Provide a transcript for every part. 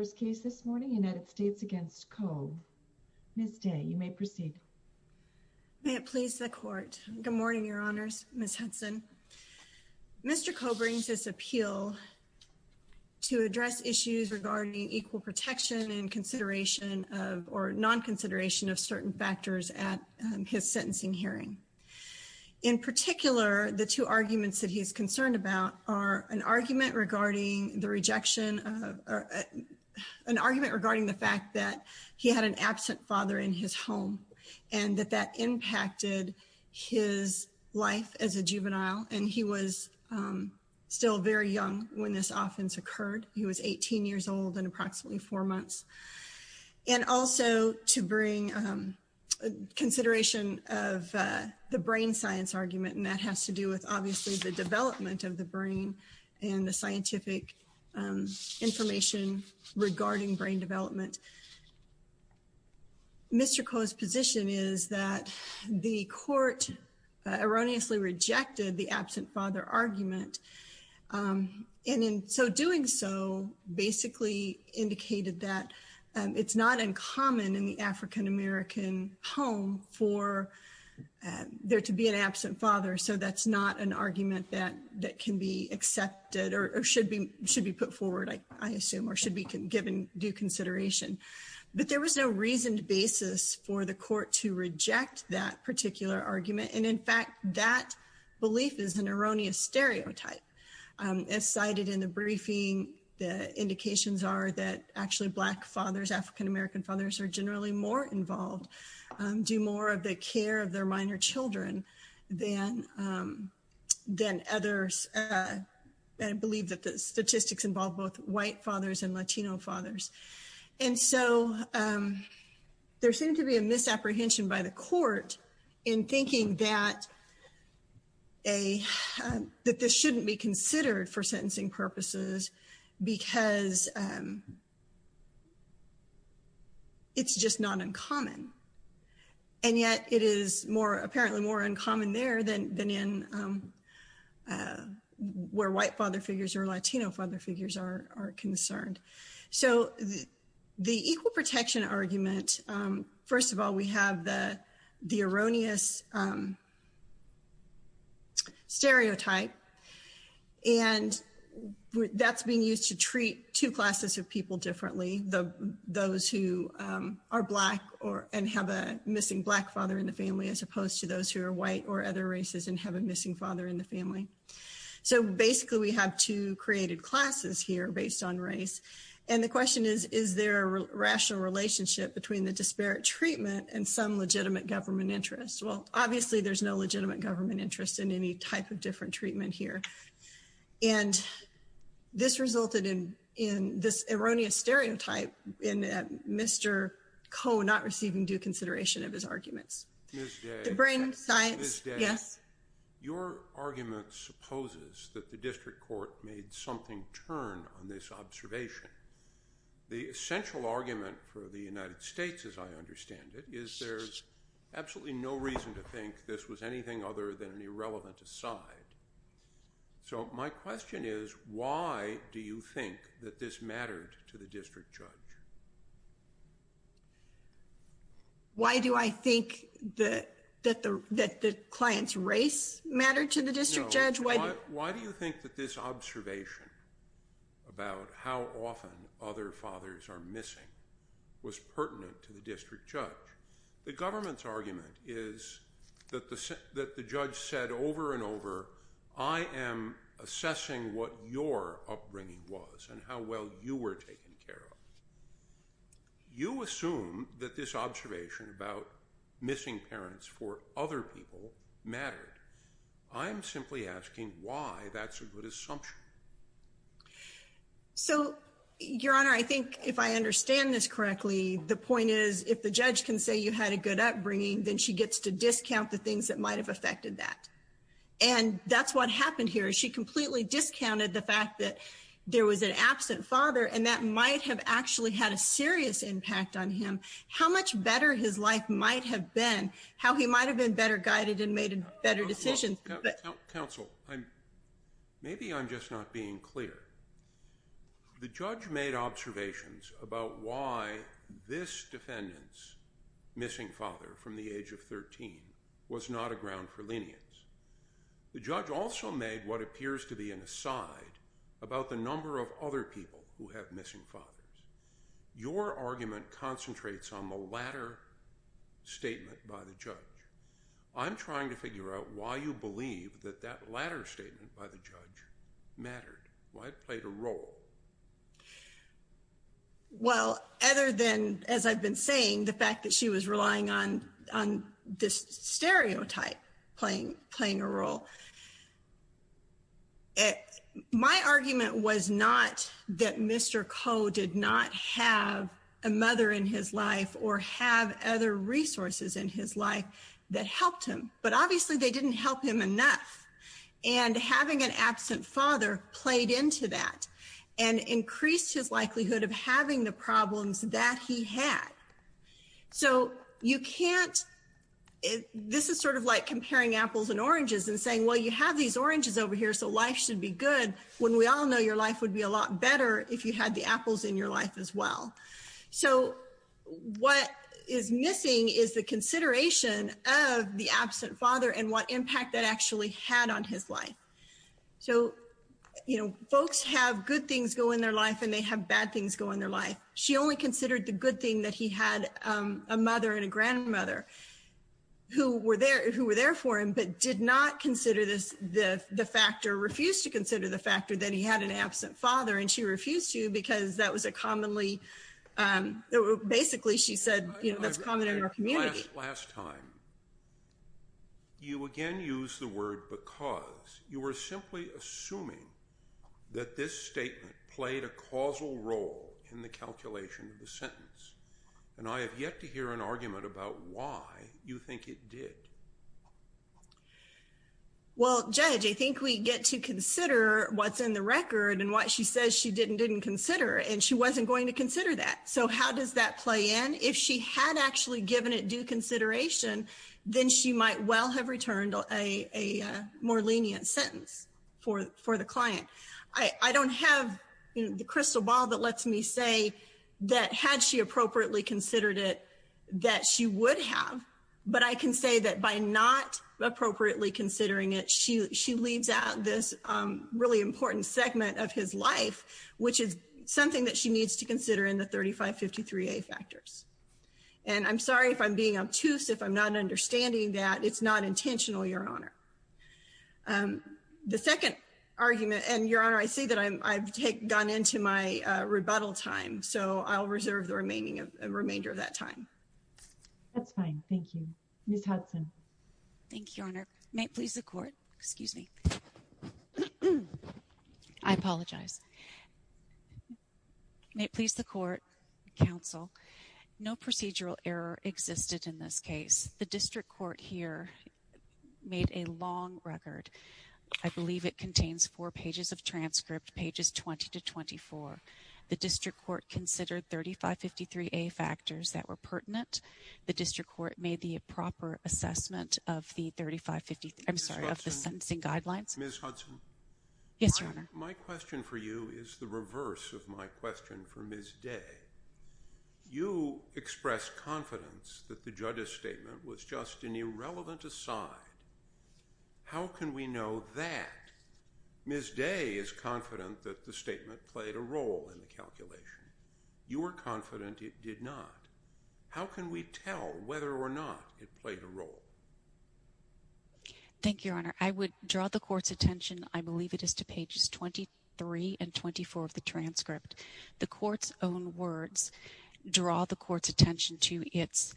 for his case this morning, United States against Coe. Ms. Day, you may proceed. May it please the court. Good morning, your honors, Ms. Hudson. Mr. Coe brings his appeal to address issues regarding equal protection and consideration of, or non-consideration of certain factors at his sentencing hearing. In particular, the two arguments that he's concerned about are an argument regarding the rejection of an argument regarding the fact that he had an absent father in his home and that that impacted his life as a juvenile. And he was still very young when this offense occurred. He was 18 years old and approximately four months. And also to bring consideration of the brain science argument. And that has to do with obviously the development of the brain and the scientific information regarding brain development. Mr. Coe's position is that the court erroneously rejected the absent father argument. And in so doing so basically indicated that it's not uncommon in the African-American home for there to be an absent father. So that's not an argument that can be accepted or should be put forward, I assume, or should be given due consideration. But there was no reasoned basis for the court to reject that particular argument. And in fact, that belief is an erroneous stereotype. As cited in the briefing, the indications are that actually black fathers, African-American fathers are generally more involved, do more of the care of their minor children than others. And I believe that the statistics involve both white fathers and Latino fathers. And so there seemed to be a misapprehension by the court in thinking that this shouldn't be considered for sentencing purposes because it's just not uncommon. And yet it is more apparently more uncommon there than in where white father figures or Latino father figures are concerned. So the equal protection argument, first of all, we have the erroneous stereotype and that's being used to treat two classes of people differently, those who are black and have a missing black father in the family as opposed to those who are white or other races and have a missing father in the family. So basically we have two created classes here based on race. And the question is, is there a rational relationship between the disparate treatment and some legitimate government interest? Well, obviously there's no legitimate government interest in any type of different treatment here. And this resulted in this erroneous stereotype and Mr. Koh not receiving due consideration of his arguments, the brain science, yes. Your argument supposes that the district court made something turn on this observation. The essential argument for the United States as I understand it is there's absolutely no reason to think this was anything other than an irrelevant aside. So my question is, why do you think that this mattered to the district judge? Why do I think that the client's race mattered to the district judge? Why do you think that this observation about how often other fathers are missing was pertinent to the district judge? The government's argument is that the judge said over and over, I am assessing what your upbringing was and how well you were taken care of. You assume that this observation about missing parents for other people mattered. I'm simply asking why that's a good assumption. So Your Honor, I think if I understand this correctly, the point is if the judge can say you had a good upbringing, then she gets to discount the things that might've affected that. And that's what happened here. She completely discounted the fact that there was an absent father and that might have actually had a serious impact on him. How much better his life might have been, how he might've been better guided and made better decisions. Counsel, maybe I'm just not being clear. The judge made observations about why this defendant's missing father from the age of 13 was not a ground for lenience. The judge also made what appears to be an aside about the number of other people who have missing fathers. Your argument concentrates on the latter statement by the judge. I'm trying to figure out why you believe that that latter statement by the judge mattered, why it played a role. Well, other than, as I've been saying, the fact that she was relying on this stereotype playing a role. My argument was not that Mr. Koh did not have a mother in his life or have other resources in his life that helped him, but obviously they didn't help him enough. And having an absent father played into that and increased his likelihood of having the problems that he had. So you can't, this is sort of like comparing apples and oranges and saying, well, you have these oranges over here, so life should be good when we all know your life would be a lot better if you had the apples in your life as well. So what is missing is the consideration of the absent father and what impact that actually had on his life. So, you know, folks have good things go in their life and they have bad things go in their life. She only considered the good thing that he had a mother and a grandmother who were there for him, but did not consider the factor, refused to consider the factor that he had an absent father and she refused to because that was a commonly, basically she said, you know, that's common in our community. Last time, you again used the word because. You were simply assuming that this statement played a causal role in the calculation of the sentence. And I have yet to hear an argument about why you think it did. Well, Judge, I think we get to consider what's in the record and what she says she did and didn't consider and she wasn't going to consider that. So how does that play in? If she had actually given it due consideration, then she might well have returned a more lenient sentence for the client. I don't have the crystal ball that lets me say that had she appropriately considered it, that she would have, but I can say that by not appropriately considering it, she leaves out this really important segment of his life, which is something that she needs to consider in the 3553A factors. And I'm sorry if I'm being obtuse, if I'm not understanding that, it's not intentional, Your Honor. The second argument, and Your Honor, I see that I've gone into my rebuttal time. So I'll reserve the remainder of that time. That's fine, thank you. Ms. Hudson. Thank you, Your Honor. May it please the court, excuse me. I apologize. May it please the court, counsel, no procedural error existed in this case. The district court here made a large error in a long record. I believe it contains four pages of transcript, pages 20 to 24. The district court considered 3553A factors that were pertinent. The district court made the proper assessment of the 3553, I'm sorry, of the sentencing guidelines. Ms. Hudson. Yes, Your Honor. My question for you is the reverse of my question for Ms. Day. You expressed confidence that the judge's statement was just an irrelevant aside. How can we know that? Ms. Day is confident that the statement played a role in the calculation. You were confident it did not. How can we tell whether or not it played a role? Thank you, Your Honor. I would draw the court's attention, I believe it is to pages 23 and 24 of the transcript. The court's own words draw the court's attention to its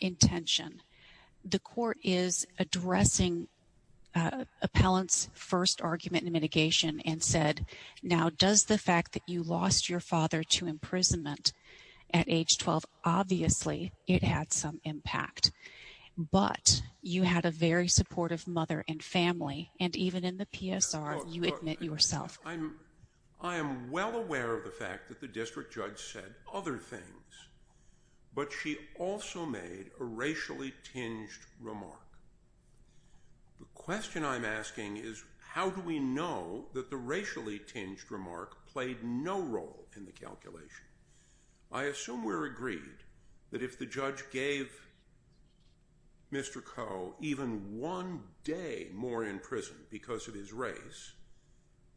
intention. The court is addressing appellant's first argument in mitigation and said, now does the fact that you lost your father to imprisonment at age 12, obviously it had some impact. But you had a very supportive mother and family. And even in the PSR, you admit yourself. I am well aware of the fact that the district judge said other things. But she also made a racially tinged remark. The question I'm asking is, how do we know that the racially tinged remark played no role in the calculation? I assume we're agreed that if the judge gave Mr. Ko even one day more in prison because of his race,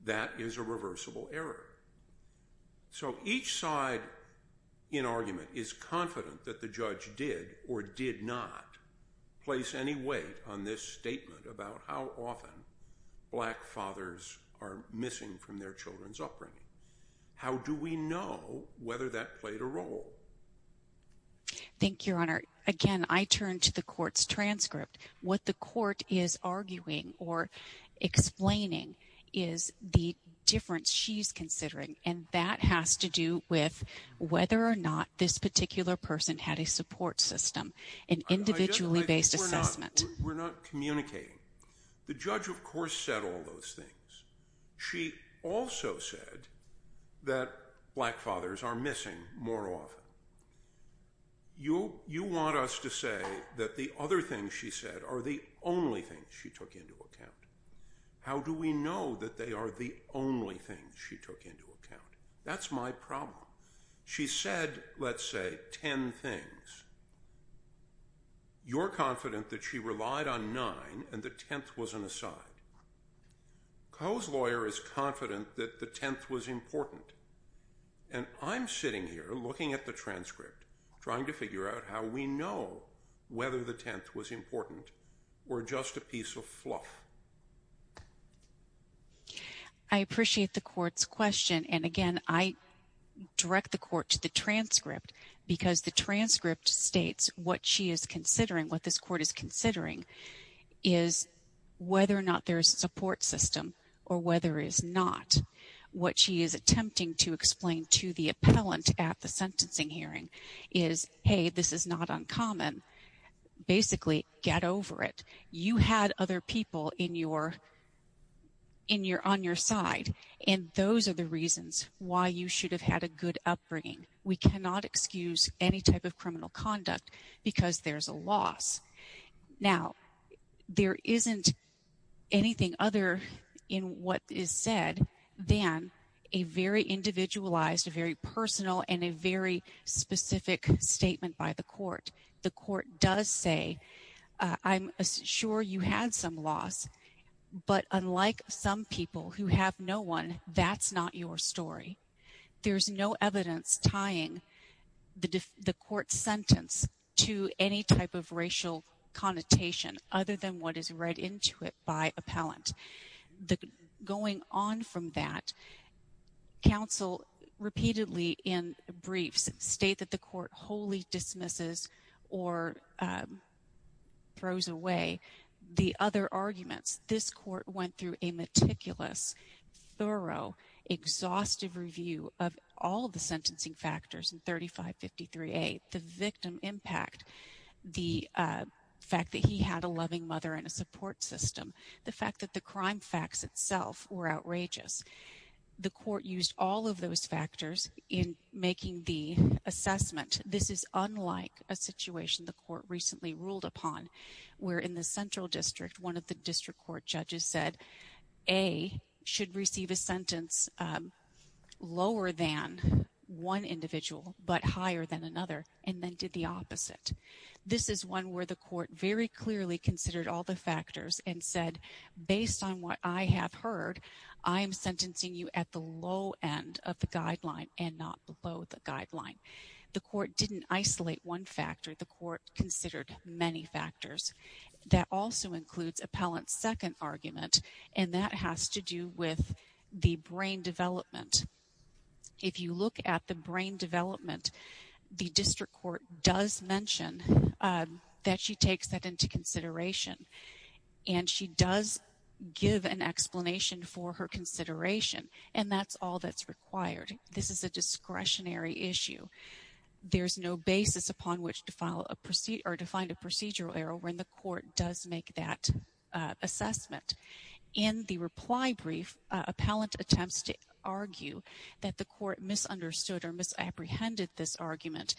that is a reversible error. So each side in argument is confident that the judge did or did not place any weight on this statement about how often black fathers are missing from their children's upbringing. How do we know whether that played a role? Thank you, Your Honor. Again, I turn to the court's transcript. What the court is arguing or explaining is the difference she's considering. And that has to do with whether or not this particular person had a support system, an individually based assessment. We're not communicating. The judge, of course, said all those things. She also said that black fathers are missing more often. You want us to say that the other things she said are the only things she took into account. How do we know that they are the only things she took into account? That's my problem. She said, let's say, 10 things. You're confident that she relied on nine and the 10th was an aside. Ko's lawyer is confident that the 10th was important. And I'm sitting here looking at the transcript, trying to figure out how we know whether the 10th was important or just a piece of fluff. I appreciate the court's question. And again, I direct the court to the transcript because the transcript states what she is considering, what this court is considering, is whether or not there's a support system or whether it's not. What she is attempting to explain to the appellant at the sentencing hearing is, hey, this is not uncommon. Basically, get over it. You had other people on your side. And those are the reasons why you should have had a good upbringing. We cannot excuse any type of criminal conduct because there's a loss. Now, there isn't anything other in what is said than a very individualized, a very personal and a very specific statement by the court. The court does say, I'm sure you had some loss, but unlike some people who have no one, that's not your story. There's no evidence tying the court sentence to any type of racial connotation other than what is read into it by appellant. Going on from that, counsel repeatedly in briefs state that the court wholly dismisses or throws away the other arguments. This court went through a meticulous, thorough, exhaustive review of all the sentencing factors in 3553A, the victim impact, the fact that he had a loving mother and a support system, the fact that the crime facts itself were outrageous. The court used all of those factors in making the assessment. This is unlike a situation the court recently ruled upon where in the central district, one of the district court judges said, A, should receive a sentence lower than one individual, but higher than another, and then did the opposite. This is one where the court very clearly considered all the factors and said, based on what I have heard, I am sentencing you at the low end of the guideline and not below the guideline. The court didn't isolate one factor, the court considered many factors. That also includes appellant's second argument, and that has to do with the brain development. If you look at the brain development, the district court does mention that she takes that into consideration, and she does give an explanation for her consideration, and that's all that's required. This is a discretionary issue. There's no basis upon which to find a procedural error when the court does make that assessment. In the reply brief, appellant attempts to argue that the court misunderstood or misapprehended this argument,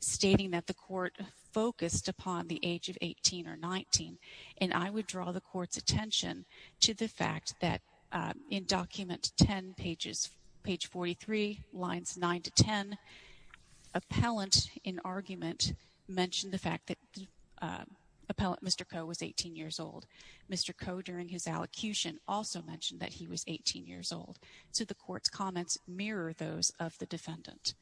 stating that the court focused upon the age of 18 or 19, and I would draw the court's attention to the fact that in document 10, page 43, lines nine to 10, appellant, in argument, mentioned the fact that appellant Mr. Coe was 18 years old. Mr. Coe, during his allocution, also mentioned that he was 18 years old. So the court's comments mirror those of the defendant.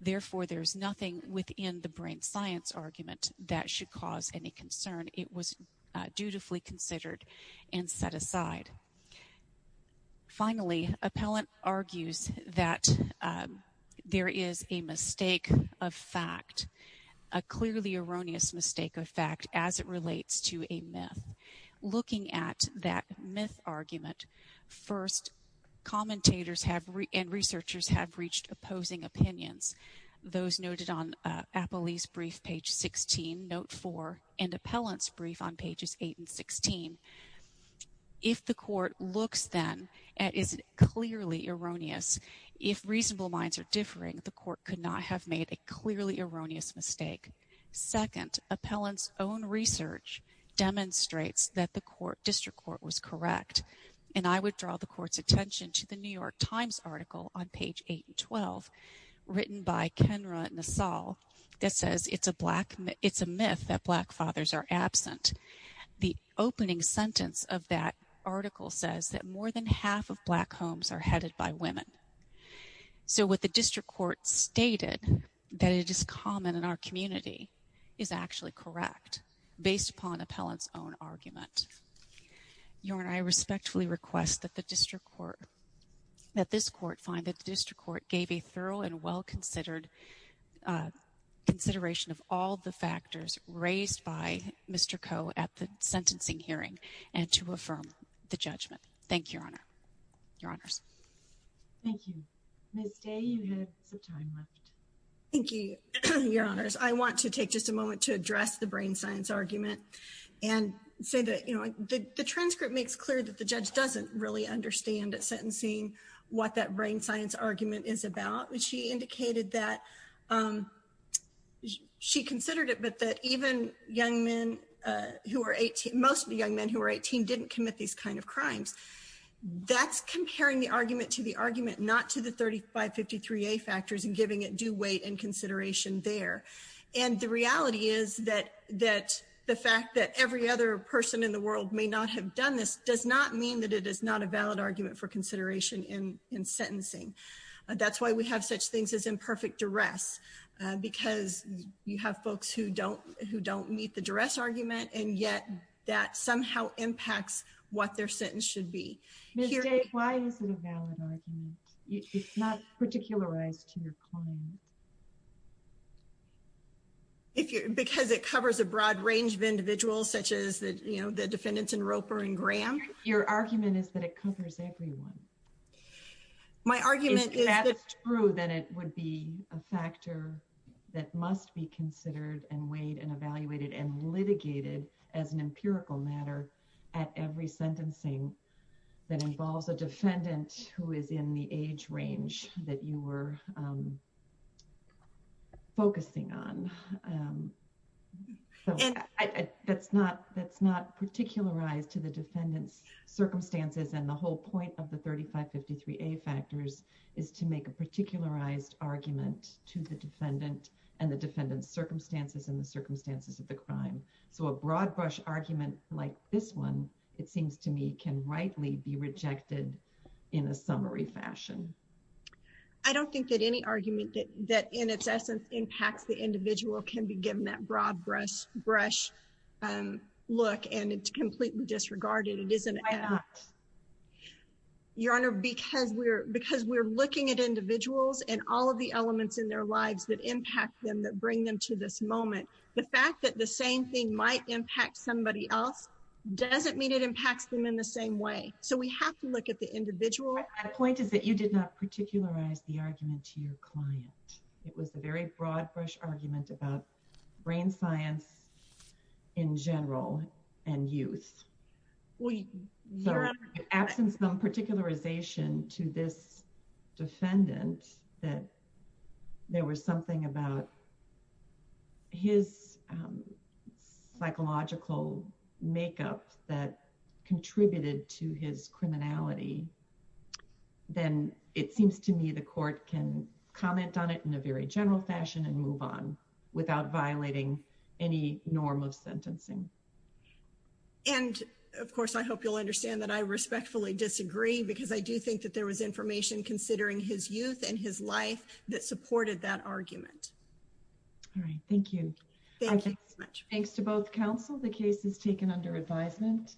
Therefore, there's nothing within the brain science argument that should cause any concern. It was dutifully considered and set aside. Finally, appellant argues that there is a mistake of fact, a clearly erroneous mistake of fact, as it relates to a myth. Looking at that myth argument, first, commentators and researchers have reached opposing opinions. Those noted on Appellee's Brief, page 16, note four, and appellant's brief on pages eight and 16. If the court looks then at is it clearly erroneous, if reasonable minds are differing, the court could not have made a clearly erroneous mistake. Second, appellant's own research demonstrates that the court, district court, was correct, and I would draw the court's attention to the New York Times article on page eight and 12, written by Kenra Nassal, that says it's a myth that black fathers are absent. The opening sentence of that article says that more than half of black homes are headed by women. So what the district court stated that it is common in our community is actually correct, based upon appellant's own argument. Your Honor, I respectfully request that this court find that the district court gave a thorough and well-considered consideration of all the factors raised by Mr. Coe at the sentencing hearing, and to affirm the judgment. Thank you, Your Honor. Your Honors. Thank you. Ms. Day, you have some time left. Thank you, Your Honors. I want to take just a moment to address the brain science argument, and say that the transcript makes clear that the judge doesn't really understand at sentencing what that brain science argument is about. And she indicated that she considered it, but that even young men who are 18, most of the young men who are 18 didn't commit these kind of crimes. That's comparing the argument to the argument, not to the 3553A factors, and giving it due weight and consideration there. And the reality is that the fact that every other person in the world may not have done this does not mean that it is not a valid argument for consideration in sentencing. That's why we have such things as imperfect duress, because you have folks who don't meet the duress argument, and yet that somehow impacts what their sentence should be. Ms. Day, why is it a valid argument? It's not particularized to your client. Because it covers a broad range of individuals, such as the defendants in Roper and Graham. Your argument is that it covers everyone. My argument is that- If that's true, then it would be a factor that must be considered and weighed and evaluated and litigated as an empirical matter at every sentencing that involves a defendant who is in the age range that you were focusing on. So that's not particularized to the defendant's circumstances and the whole point of the 3553A factors is to make a particularized argument to the defendant and the defendant's circumstances and the circumstances of the crime. So a broad brush argument like this one, it seems to me can rightly be rejected in a summary fashion. I don't think that any argument that in its essence impacts the individual can be given that broad brush look and it's completely disregarded. It isn't- Why not? Your Honor, because we're looking at individuals and all of the elements in their lives that impact them, that bring them to this moment, the fact that the same thing might impact somebody else doesn't mean it impacts them in the same way. So we have to look at the individual. My point is that you did not particularize the argument to your client. It was a very broad brush argument about brain science in general and youth. Well, Your Honor- Absence of particularization to this defendant that there was something about his psychological makeup that contributed to his criminality, then it seems to me the court can comment on it in a very general fashion and move on without violating any norm of sentencing. And of course, I hope you'll understand that I respectfully disagree because I do think that there was information considering his youth and his life that supported that argument. All right, thank you. Thank you so much. Thanks to both counsel, the case is taken under advisement.